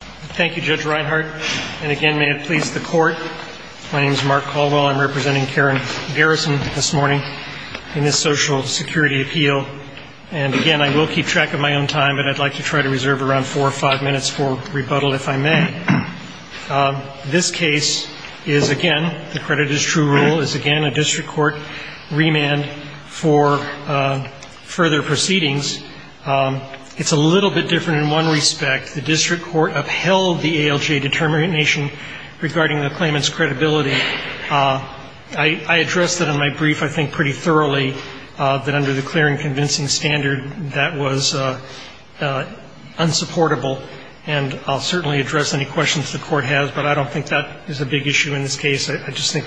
Thank you, Judge Reinhardt. And again, may it please the Court, my name is Mark Caldwell. I'm representing Karen Garrison this morning in this Social Security appeal. And again, I will keep track of my own time, but I'd like to try to reserve around four or five minutes for rebuttal if I may. This case is, again, the credit is true rule, is again a district court remand for further proceedings. It's a little bit different in one respect. The district court upheld the ALJ determination regarding the claimant's credibility. I addressed that in my brief, I think, pretty thoroughly, that under the clear and convincing standard that was unsupportable. And I'll certainly address any questions the court has, but I don't think that is a big issue in this case. I just think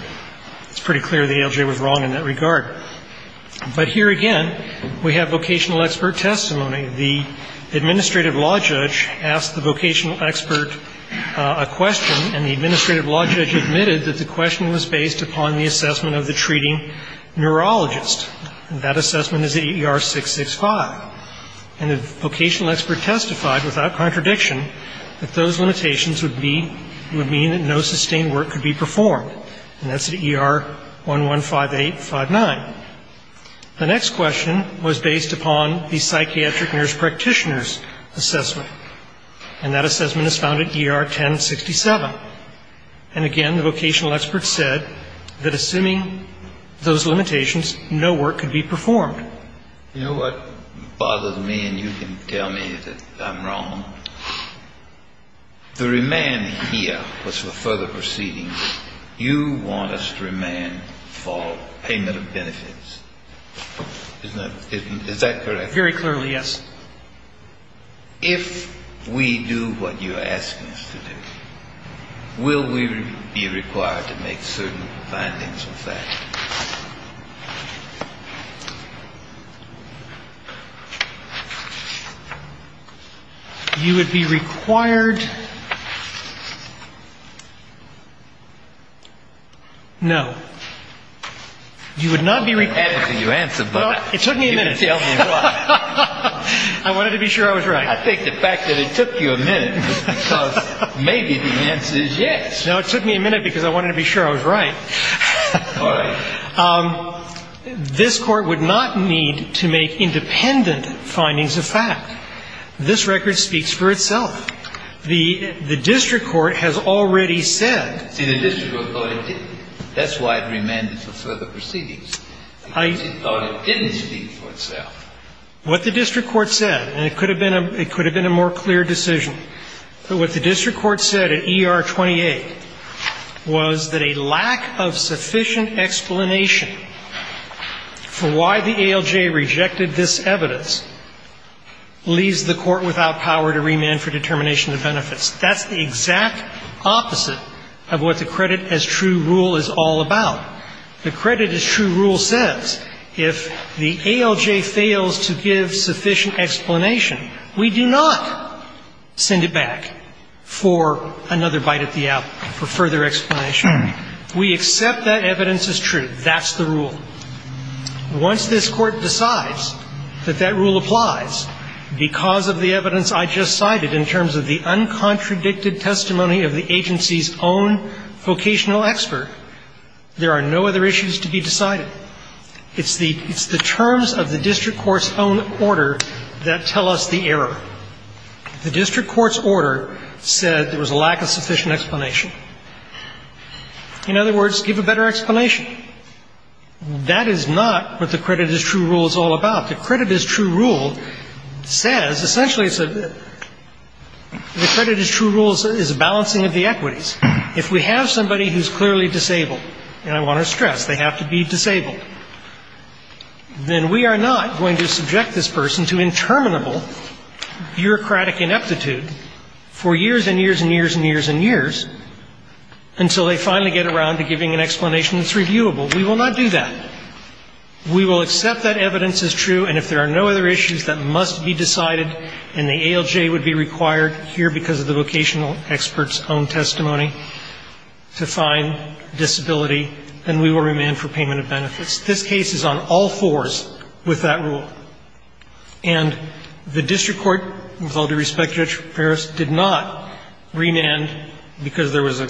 it's pretty clear the ALJ was wrong in that regard. But here again, we have vocational expert testimony. The administrative law judge asked the vocational expert a question, and the administrative law judge admitted that the question was based upon the assessment of the treating neurologist. And that assessment is the ER-665. And the vocational expert testified without contradiction that those limitations would be, would mean that no sustained work could be performed. And that's the ER-115859. The next question was based upon the psychiatric nurse practitioner's assessment. And that assessment is found at ER-1067. And again, the vocational expert said that assuming those limitations, no work could be performed. You know what bothers me, and you can tell me that I'm wrong? The remand here was for payment of benefits. Is that correct? Very clearly, yes. If we do what you ask us to do, will we be required to make certain findings of that? You would be required? No. You would not be required. I'm happy to answer, but you can tell me why. It took me a minute. I wanted to be sure I was right. I think the fact that it took you a minute is because maybe the answer is yes. No, it took me a minute because I wanted to be sure I was right. All right. This Court would not need to make independent findings of fact. This record speaks for itself. The district court has already said. See, the district court thought it didn't. That's why it remanded for further proceedings. It thought it didn't speak for itself. What the district court said, and it could have been a more clear decision, but what The district court said at ER 28 was that a lack of sufficient explanation for why the ALJ rejected this evidence leaves the court without power to remand for determination of benefits. That's the exact opposite of what the credit as true rule is all about. The credit as true rule says if the ALJ fails to give sufficient explanation, we do not send it back for another bite at the apple, for further explanation. We accept that evidence is true. That's the rule. Once this Court decides that that rule applies because of the evidence I just cited in terms of the uncontradicted testimony of the agency's own vocational expert, there are no other issues to be decided. It's the terms of the district court's own order that tell us the error. The district court's order said there was a lack of sufficient explanation. In other words, give a better explanation. That is not what the credit as true rule is all about. The credit as true rule says, essentially, the credit as true rule is balancing of the equities. If we have somebody who's clearly disabled, and I want to stress, they have to be disabled, then we are not going to subject this person to interminable bureaucratic ineptitude for years and years and years and years and years until they finally get around to giving an explanation that's reviewable. We will not do that. We will accept that evidence is true, and if there are no other issues, that must be decided, and the ALJ would be required here because of the vocational expert's own testimony to find disability, then we will remand for payment of benefits. This case is on all fours with that rule. And the district court, with all due respect, Judge Paris, did not remand because there was a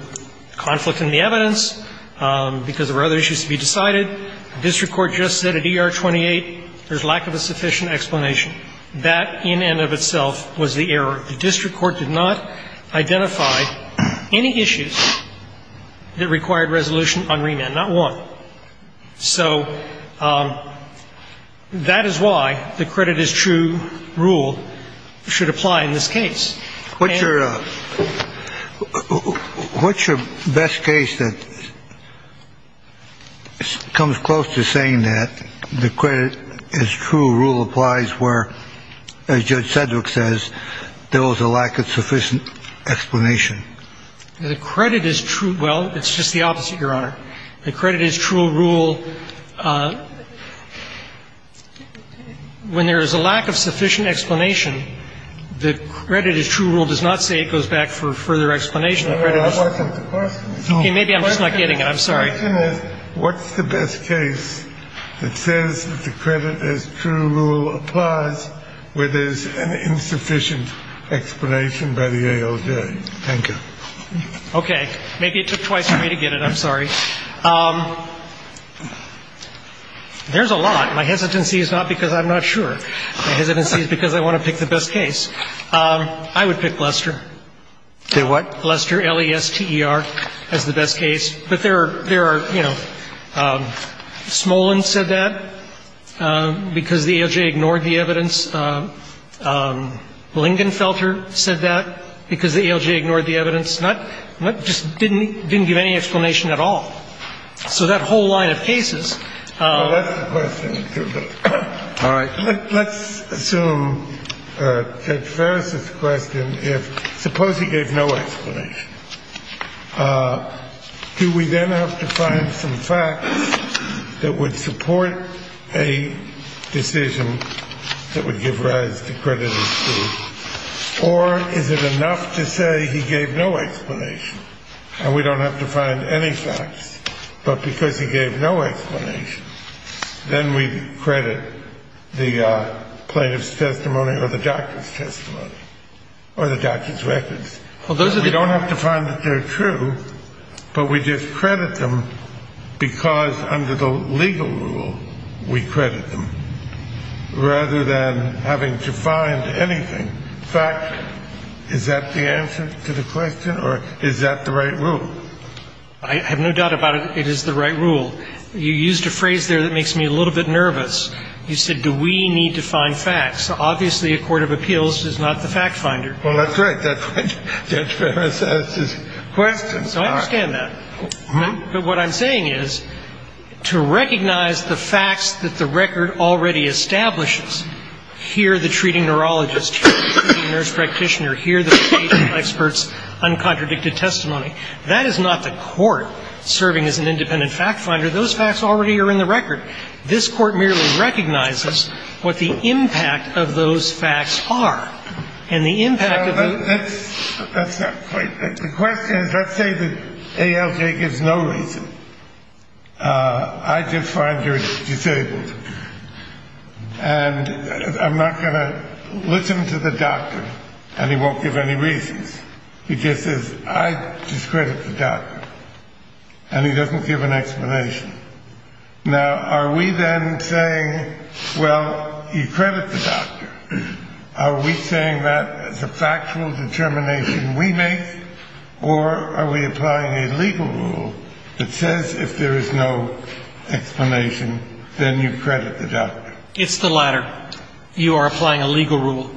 conflict in the evidence, because there were other issues to be decided. The district court just said at ER 28 there's lack of a sufficient explanation. That, in and of itself, was the error. The district court did not identify any issues that required resolution on remand, not one. So that is why the credit is true rule should apply in this case. What's your best case that comes close to saying that the credit is true rule applies where, as Judge Sedgwick says, there was a lack of sufficient explanation? The credit is true. Well, it's just the opposite, Your Honor. The credit is true rule. When there is a lack of sufficient explanation, the credit is true rule does not say it goes back for further explanation. The credit is true. No, no, I wasn't the person. Okay, maybe I'm just not getting it. I'm sorry. The question is, what's the best case that says that the credit is true rule applies where there's an insufficient explanation by the ALJ? Thank you. Okay. Maybe it took twice for me to get it. I'm sorry. There's a lot. My hesitancy is not because I'm not sure. My hesitancy is because I want to pick the best case. I would pick Lester. Say what? Lester, L-E-S-T-E-R as the best case. But there are, you know, Smolin said that because the ALJ ignored the evidence. Lingenfelter said that because the ALJ ignored the evidence. Not just didn't give any explanation at all. So that whole line of cases. That's the question. All right. Let's assume that Ferris's question, if suppose he gave no explanation. Do we then have to find some facts that would support a decision that would give rise to credit as true? Or is it enough to say he gave no explanation? And we don't have to find any facts. But because he gave no explanation, then we credit the plaintiff's testimony or the doctor's testimony. Or the doctor's records. We don't have to find that they're true, but we just credit them because under the legal rule, we credit them. Rather than having to find anything. Fact, is that the answer to the question? Or is that the right rule? I have no doubt about it. It is the right rule. You used a phrase there that makes me a little bit nervous. You said, do we need to find facts? Obviously, a court of appeals is not the fact finder. Well, that's right. That's what Judge Ferris asked his question. So I understand that. But what I'm saying is, to recognize the facts that the record already establishes, here the treating neurologist, here the treating nurse practitioner, here the patient expert's uncontradicted testimony, that is not the court serving as an independent fact finder. Those facts already are in the record. This court merely recognizes what the impact of those facts are. That's not quite right. The question is, let's say that ALJ gives no reason. I just find you're disabled. And I'm not going to listen to the doctor. And he won't give any reasons. He just says, I discredit the doctor. And he doesn't give an explanation. Now, are we then saying, well, you credit the doctor. Are we saying that as a factual determination we make, or are we applying a legal rule that says if there is no explanation, then you credit the doctor? It's the latter. You are applying a legal rule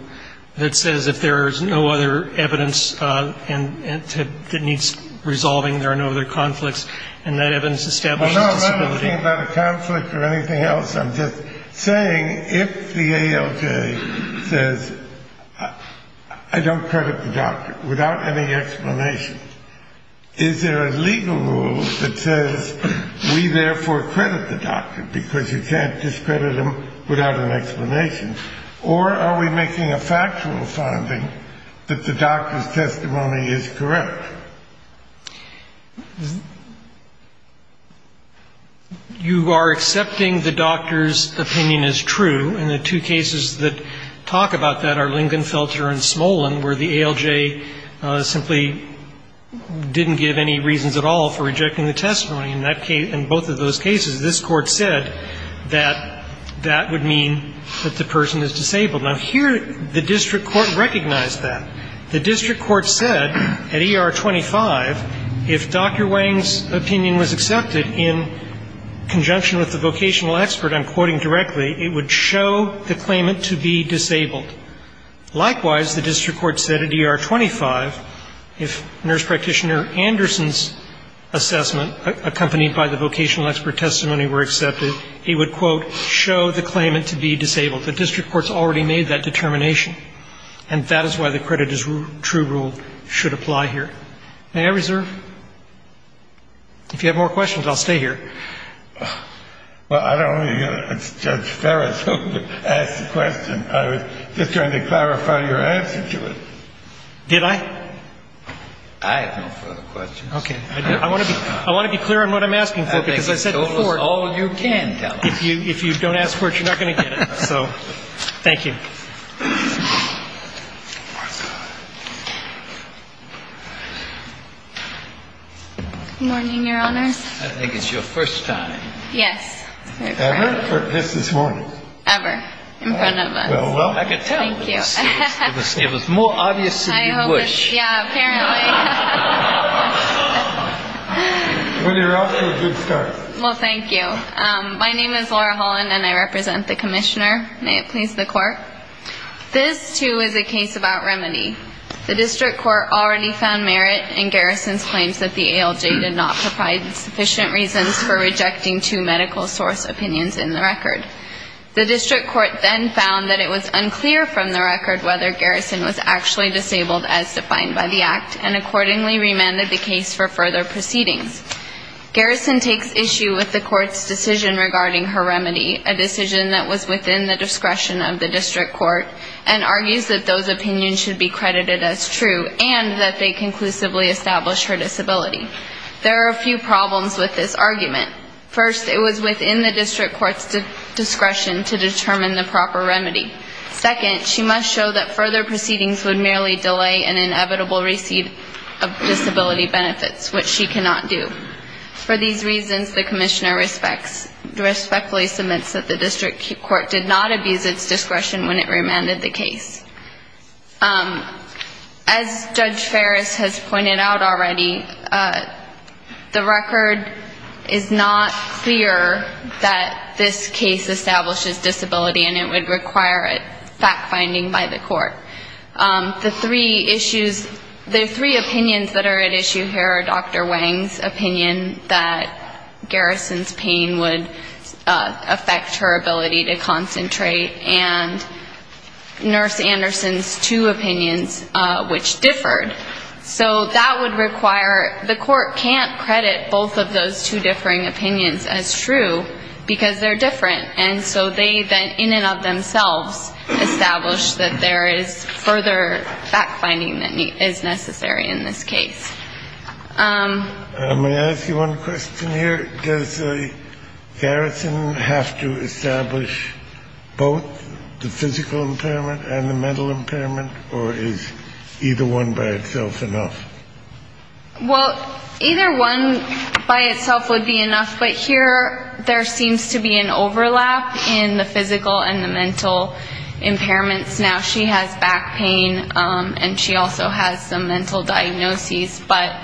that says if there is no other evidence that needs resolving, there are no other conflicts, and that evidence establishes disability. No, I'm not talking about a conflict or anything else. I'm just saying if the ALJ says I don't credit the doctor without any explanation, is there a legal rule that says we therefore credit the doctor because you can't discredit him without an explanation? Or are we making a factual finding that the doctor's testimony is correct? You are accepting the doctor's opinion is true, and the two cases that talk about that are Lingenfelter and Smolin, where the ALJ simply didn't give any reasons at all for rejecting the testimony. In both of those cases, this Court said that that would mean that the person is disabled. Now, here the district court recognized that. The district court said at ER25 if Dr. Wang's opinion was accepted in conjunction with the vocational expert I'm quoting directly, it would show the claimant to be disabled. Likewise, the district court said at ER25 if nurse practitioner Anderson's assessment accompanied by the vocational expert testimony were accepted, it would, quote, show the claimant to be disabled. The district court's already made that determination. And that is why the credit as true rule should apply here. May I reserve? If you have more questions, I'll stay here. Well, I don't want to hear Judge Ferris ask the question. I was just trying to clarify your answer to it. Did I? I have no further questions. Okay. I want to be clear on what I'm asking for, because I said before. I think the total is all you can tell us. If you don't ask for it, you're not going to get it. So thank you. Morning, Your Honor. I think it's your first time. Yes. Ever? Yes, this morning. Ever. In front of us. Well, I can tell. Thank you. It was more obvious than you wish. Yeah, apparently. Well, you're off to a good start. Well, thank you. My name is Laura Holland, and I represent the Commissioner. May it please the Court. This, too, is a case about remedy. The District Court already found merit in Garrison's claims that the ALJ did not provide sufficient reasons for rejecting two medical source opinions in the record. The District Court then found that it was unclear from the record whether Garrison was actually disabled, as defined by the Act, and accordingly remanded the case for further proceedings. Garrison takes issue with the Court's decision regarding her remedy, a decision that was within the discretion of the District Court, and argues that those opinions should be credited as true and that they conclusively establish her disability. There are a few problems with this argument. First, it was within the District Court's discretion to determine the proper remedy. Second, she must show that further proceedings would merely delay an inevitable receipt of disability benefits, which she cannot do. For these reasons, the Commissioner respectfully submits that the District Court did not abuse its discretion when it remanded the case. As Judge Ferris has pointed out already, the record is not clear that this case establishes disability, and it would require fact-finding by the Court. The three issues, the three opinions that are at issue here are Dr. Wang's opinion that Garrison's pain would affect her ability to concentrate, and Nurse Anderson's two opinions, which differed. So that would require, the Court can't credit both of those two differing opinions as true, because they're different. And so they then, in and of themselves, establish that there is further fact-finding that is necessary in this case. May I ask you one question here? Does Garrison have to establish both the physical impairment and the mental impairment, or is either one by itself enough? Well, either one by itself would be enough. But here there seems to be an overlap in the physical and the mental impairments. Now, she has back pain, and she also has some mental diagnoses. But,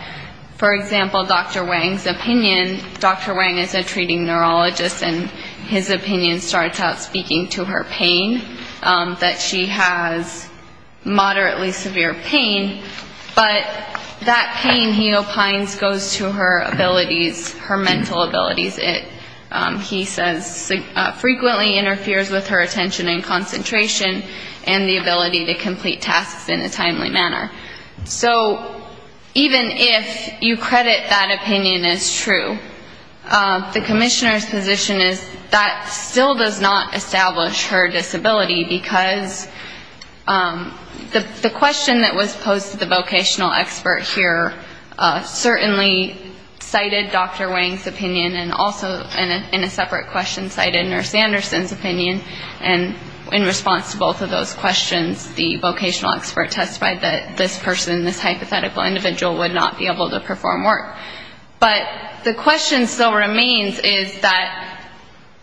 for example, Dr. Wang's opinion, Dr. Wang is a treating neurologist, and his opinion starts out speaking to her pain, that she has moderately severe pain. But that pain, he opines, goes to her abilities, her mental abilities. He says frequently interferes with her attention and concentration and the ability to complete tasks in a timely manner. So even if you credit that opinion as true, the Commissioner's position is that still does not establish her disability, because the question that was posed to the vocational expert here certainly cited Dr. Wang's opinion, and also in a separate question cited Nurse Anderson's opinion. And in response to both of those questions, the vocational expert testified that this person, this hypothetical individual, would not be able to perform work. But the question still remains is that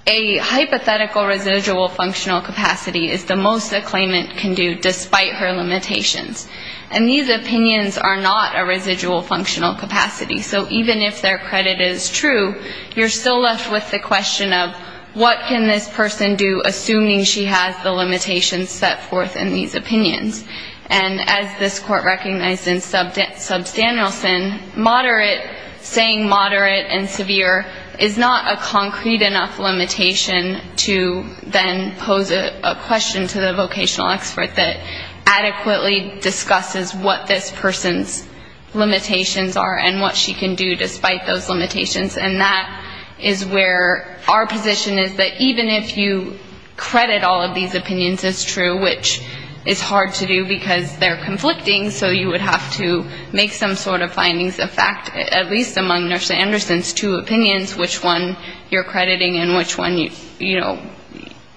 a hypothetical residual functional capacity is the most a claimant can do, despite her limitations. And these opinions are not a residual functional capacity. So even if their credit is true, you're still left with the question of what can this person do, assuming she has the limitations set forth in these opinions. And as this Court recognized in Substantial Sin, moderate, saying moderate and severe, is not a concrete enough limitation to then pose a question to the vocational expert that adequately discusses what this person's limitations are and what she can do despite those limitations. And that is where our position is that even if you credit all of these opinions as true, which is hard to do because they're conflicting, so you would have to make some sort of findings of fact, at least among Nurse Anderson's two opinions, which one you're crediting and which one, you know,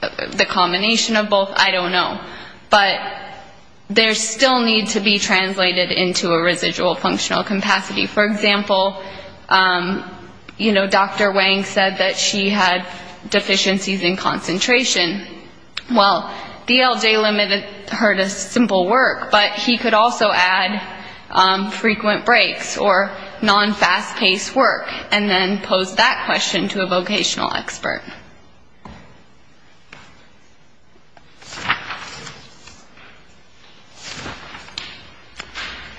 the combination of both, I don't know. But there still needs to be translated into a residual functional capacity. For example, you know, Dr. Wang said that she had deficiencies in concentration. Well, DLJ limited her to simple work, but he could also add frequent breaks or non-fast-paced work and then pose that question to a vocational expert.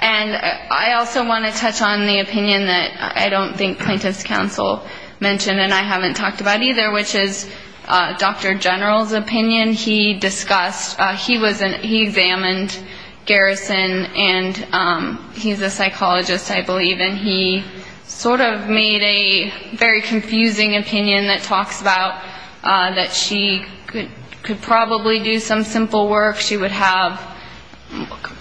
And I also want to touch on the opinion that I don't think plaintiff's counsel mentioned and I haven't talked about either, which is Dr. General's opinion. He discussed, he examined Garrison, and he's a psychologist, I believe, and he sort of made a very confusing opinion that talks about that she could probably do some simple work, she would have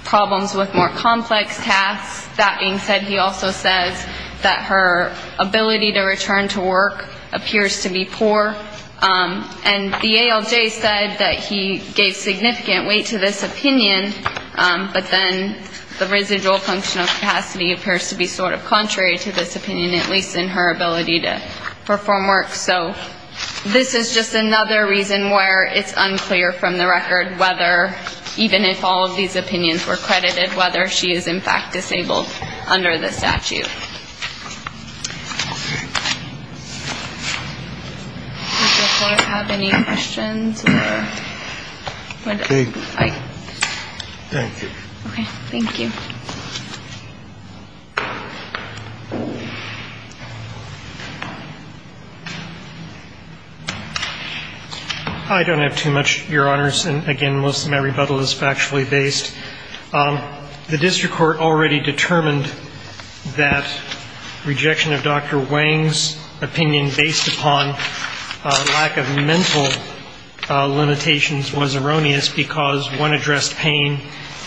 problems with more complex tasks. That being said, he also says that her ability to return to work appears to be poor. And the ALJ said that he gave significant weight to this opinion, but then the residual functional capacity appears to be sort of contrary to this opinion, at least in her ability to perform work. So this is just another reason where it's unclear from the record whether, even if all of these opinions were credited, whether she is in fact disabled under the statute. Does the Court have any questions? Okay. Thank you. Okay. Thank you. I don't have too much, Your Honors, and again, most of my rebuttal is factually based. The district court already determined that rejection of Dr. Wang's opinion based upon lack of mental limitations was erroneous because one addressed pain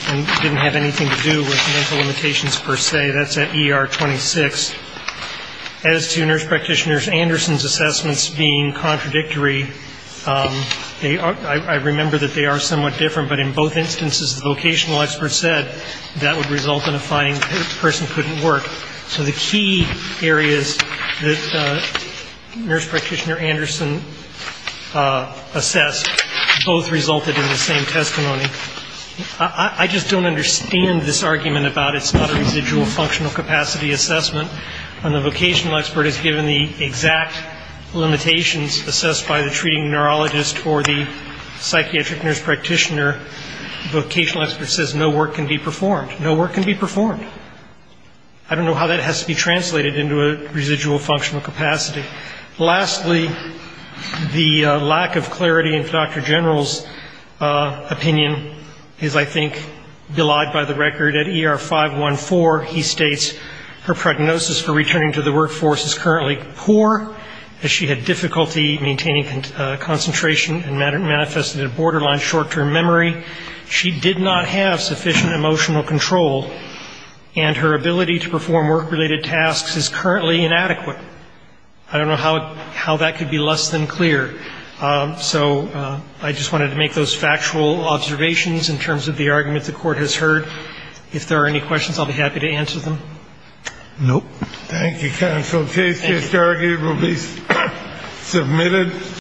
and didn't have anything to do with mental limitations per se. That's at ER 26. As to Nurse Practitioner Anderson's assessments being contradictory, I remember that they are somewhat different, but in both instances the vocational expert said that would result in a finding that the person couldn't work. So the key areas that Nurse Practitioner Anderson assessed both resulted in the same testimony. I just don't understand this argument about it's not a residual functional capacity assessment when the vocational expert is given the exact limitations assessed by the treating neurologist or the psychiatric nurse practitioner. The vocational expert says no work can be performed. No work can be performed. I don't know how that has to be translated into a residual functional capacity. Lastly, the lack of clarity in Dr. General's opinion is, I think, belied by the record. At ER 514, he states her prognosis for returning to the workforce is currently poor as she had difficulty maintaining concentration and manifested a borderline short-term memory. She did not have sufficient emotional control, and her ability to perform work-related tasks is currently inadequate. I don't know how that could be less than clear. So I just wanted to make those factual observations in terms of the argument the Court has heard. If there are any questions, I'll be happy to answer them. Nope. Thank you, counsel. The case is derogated and will be submitted.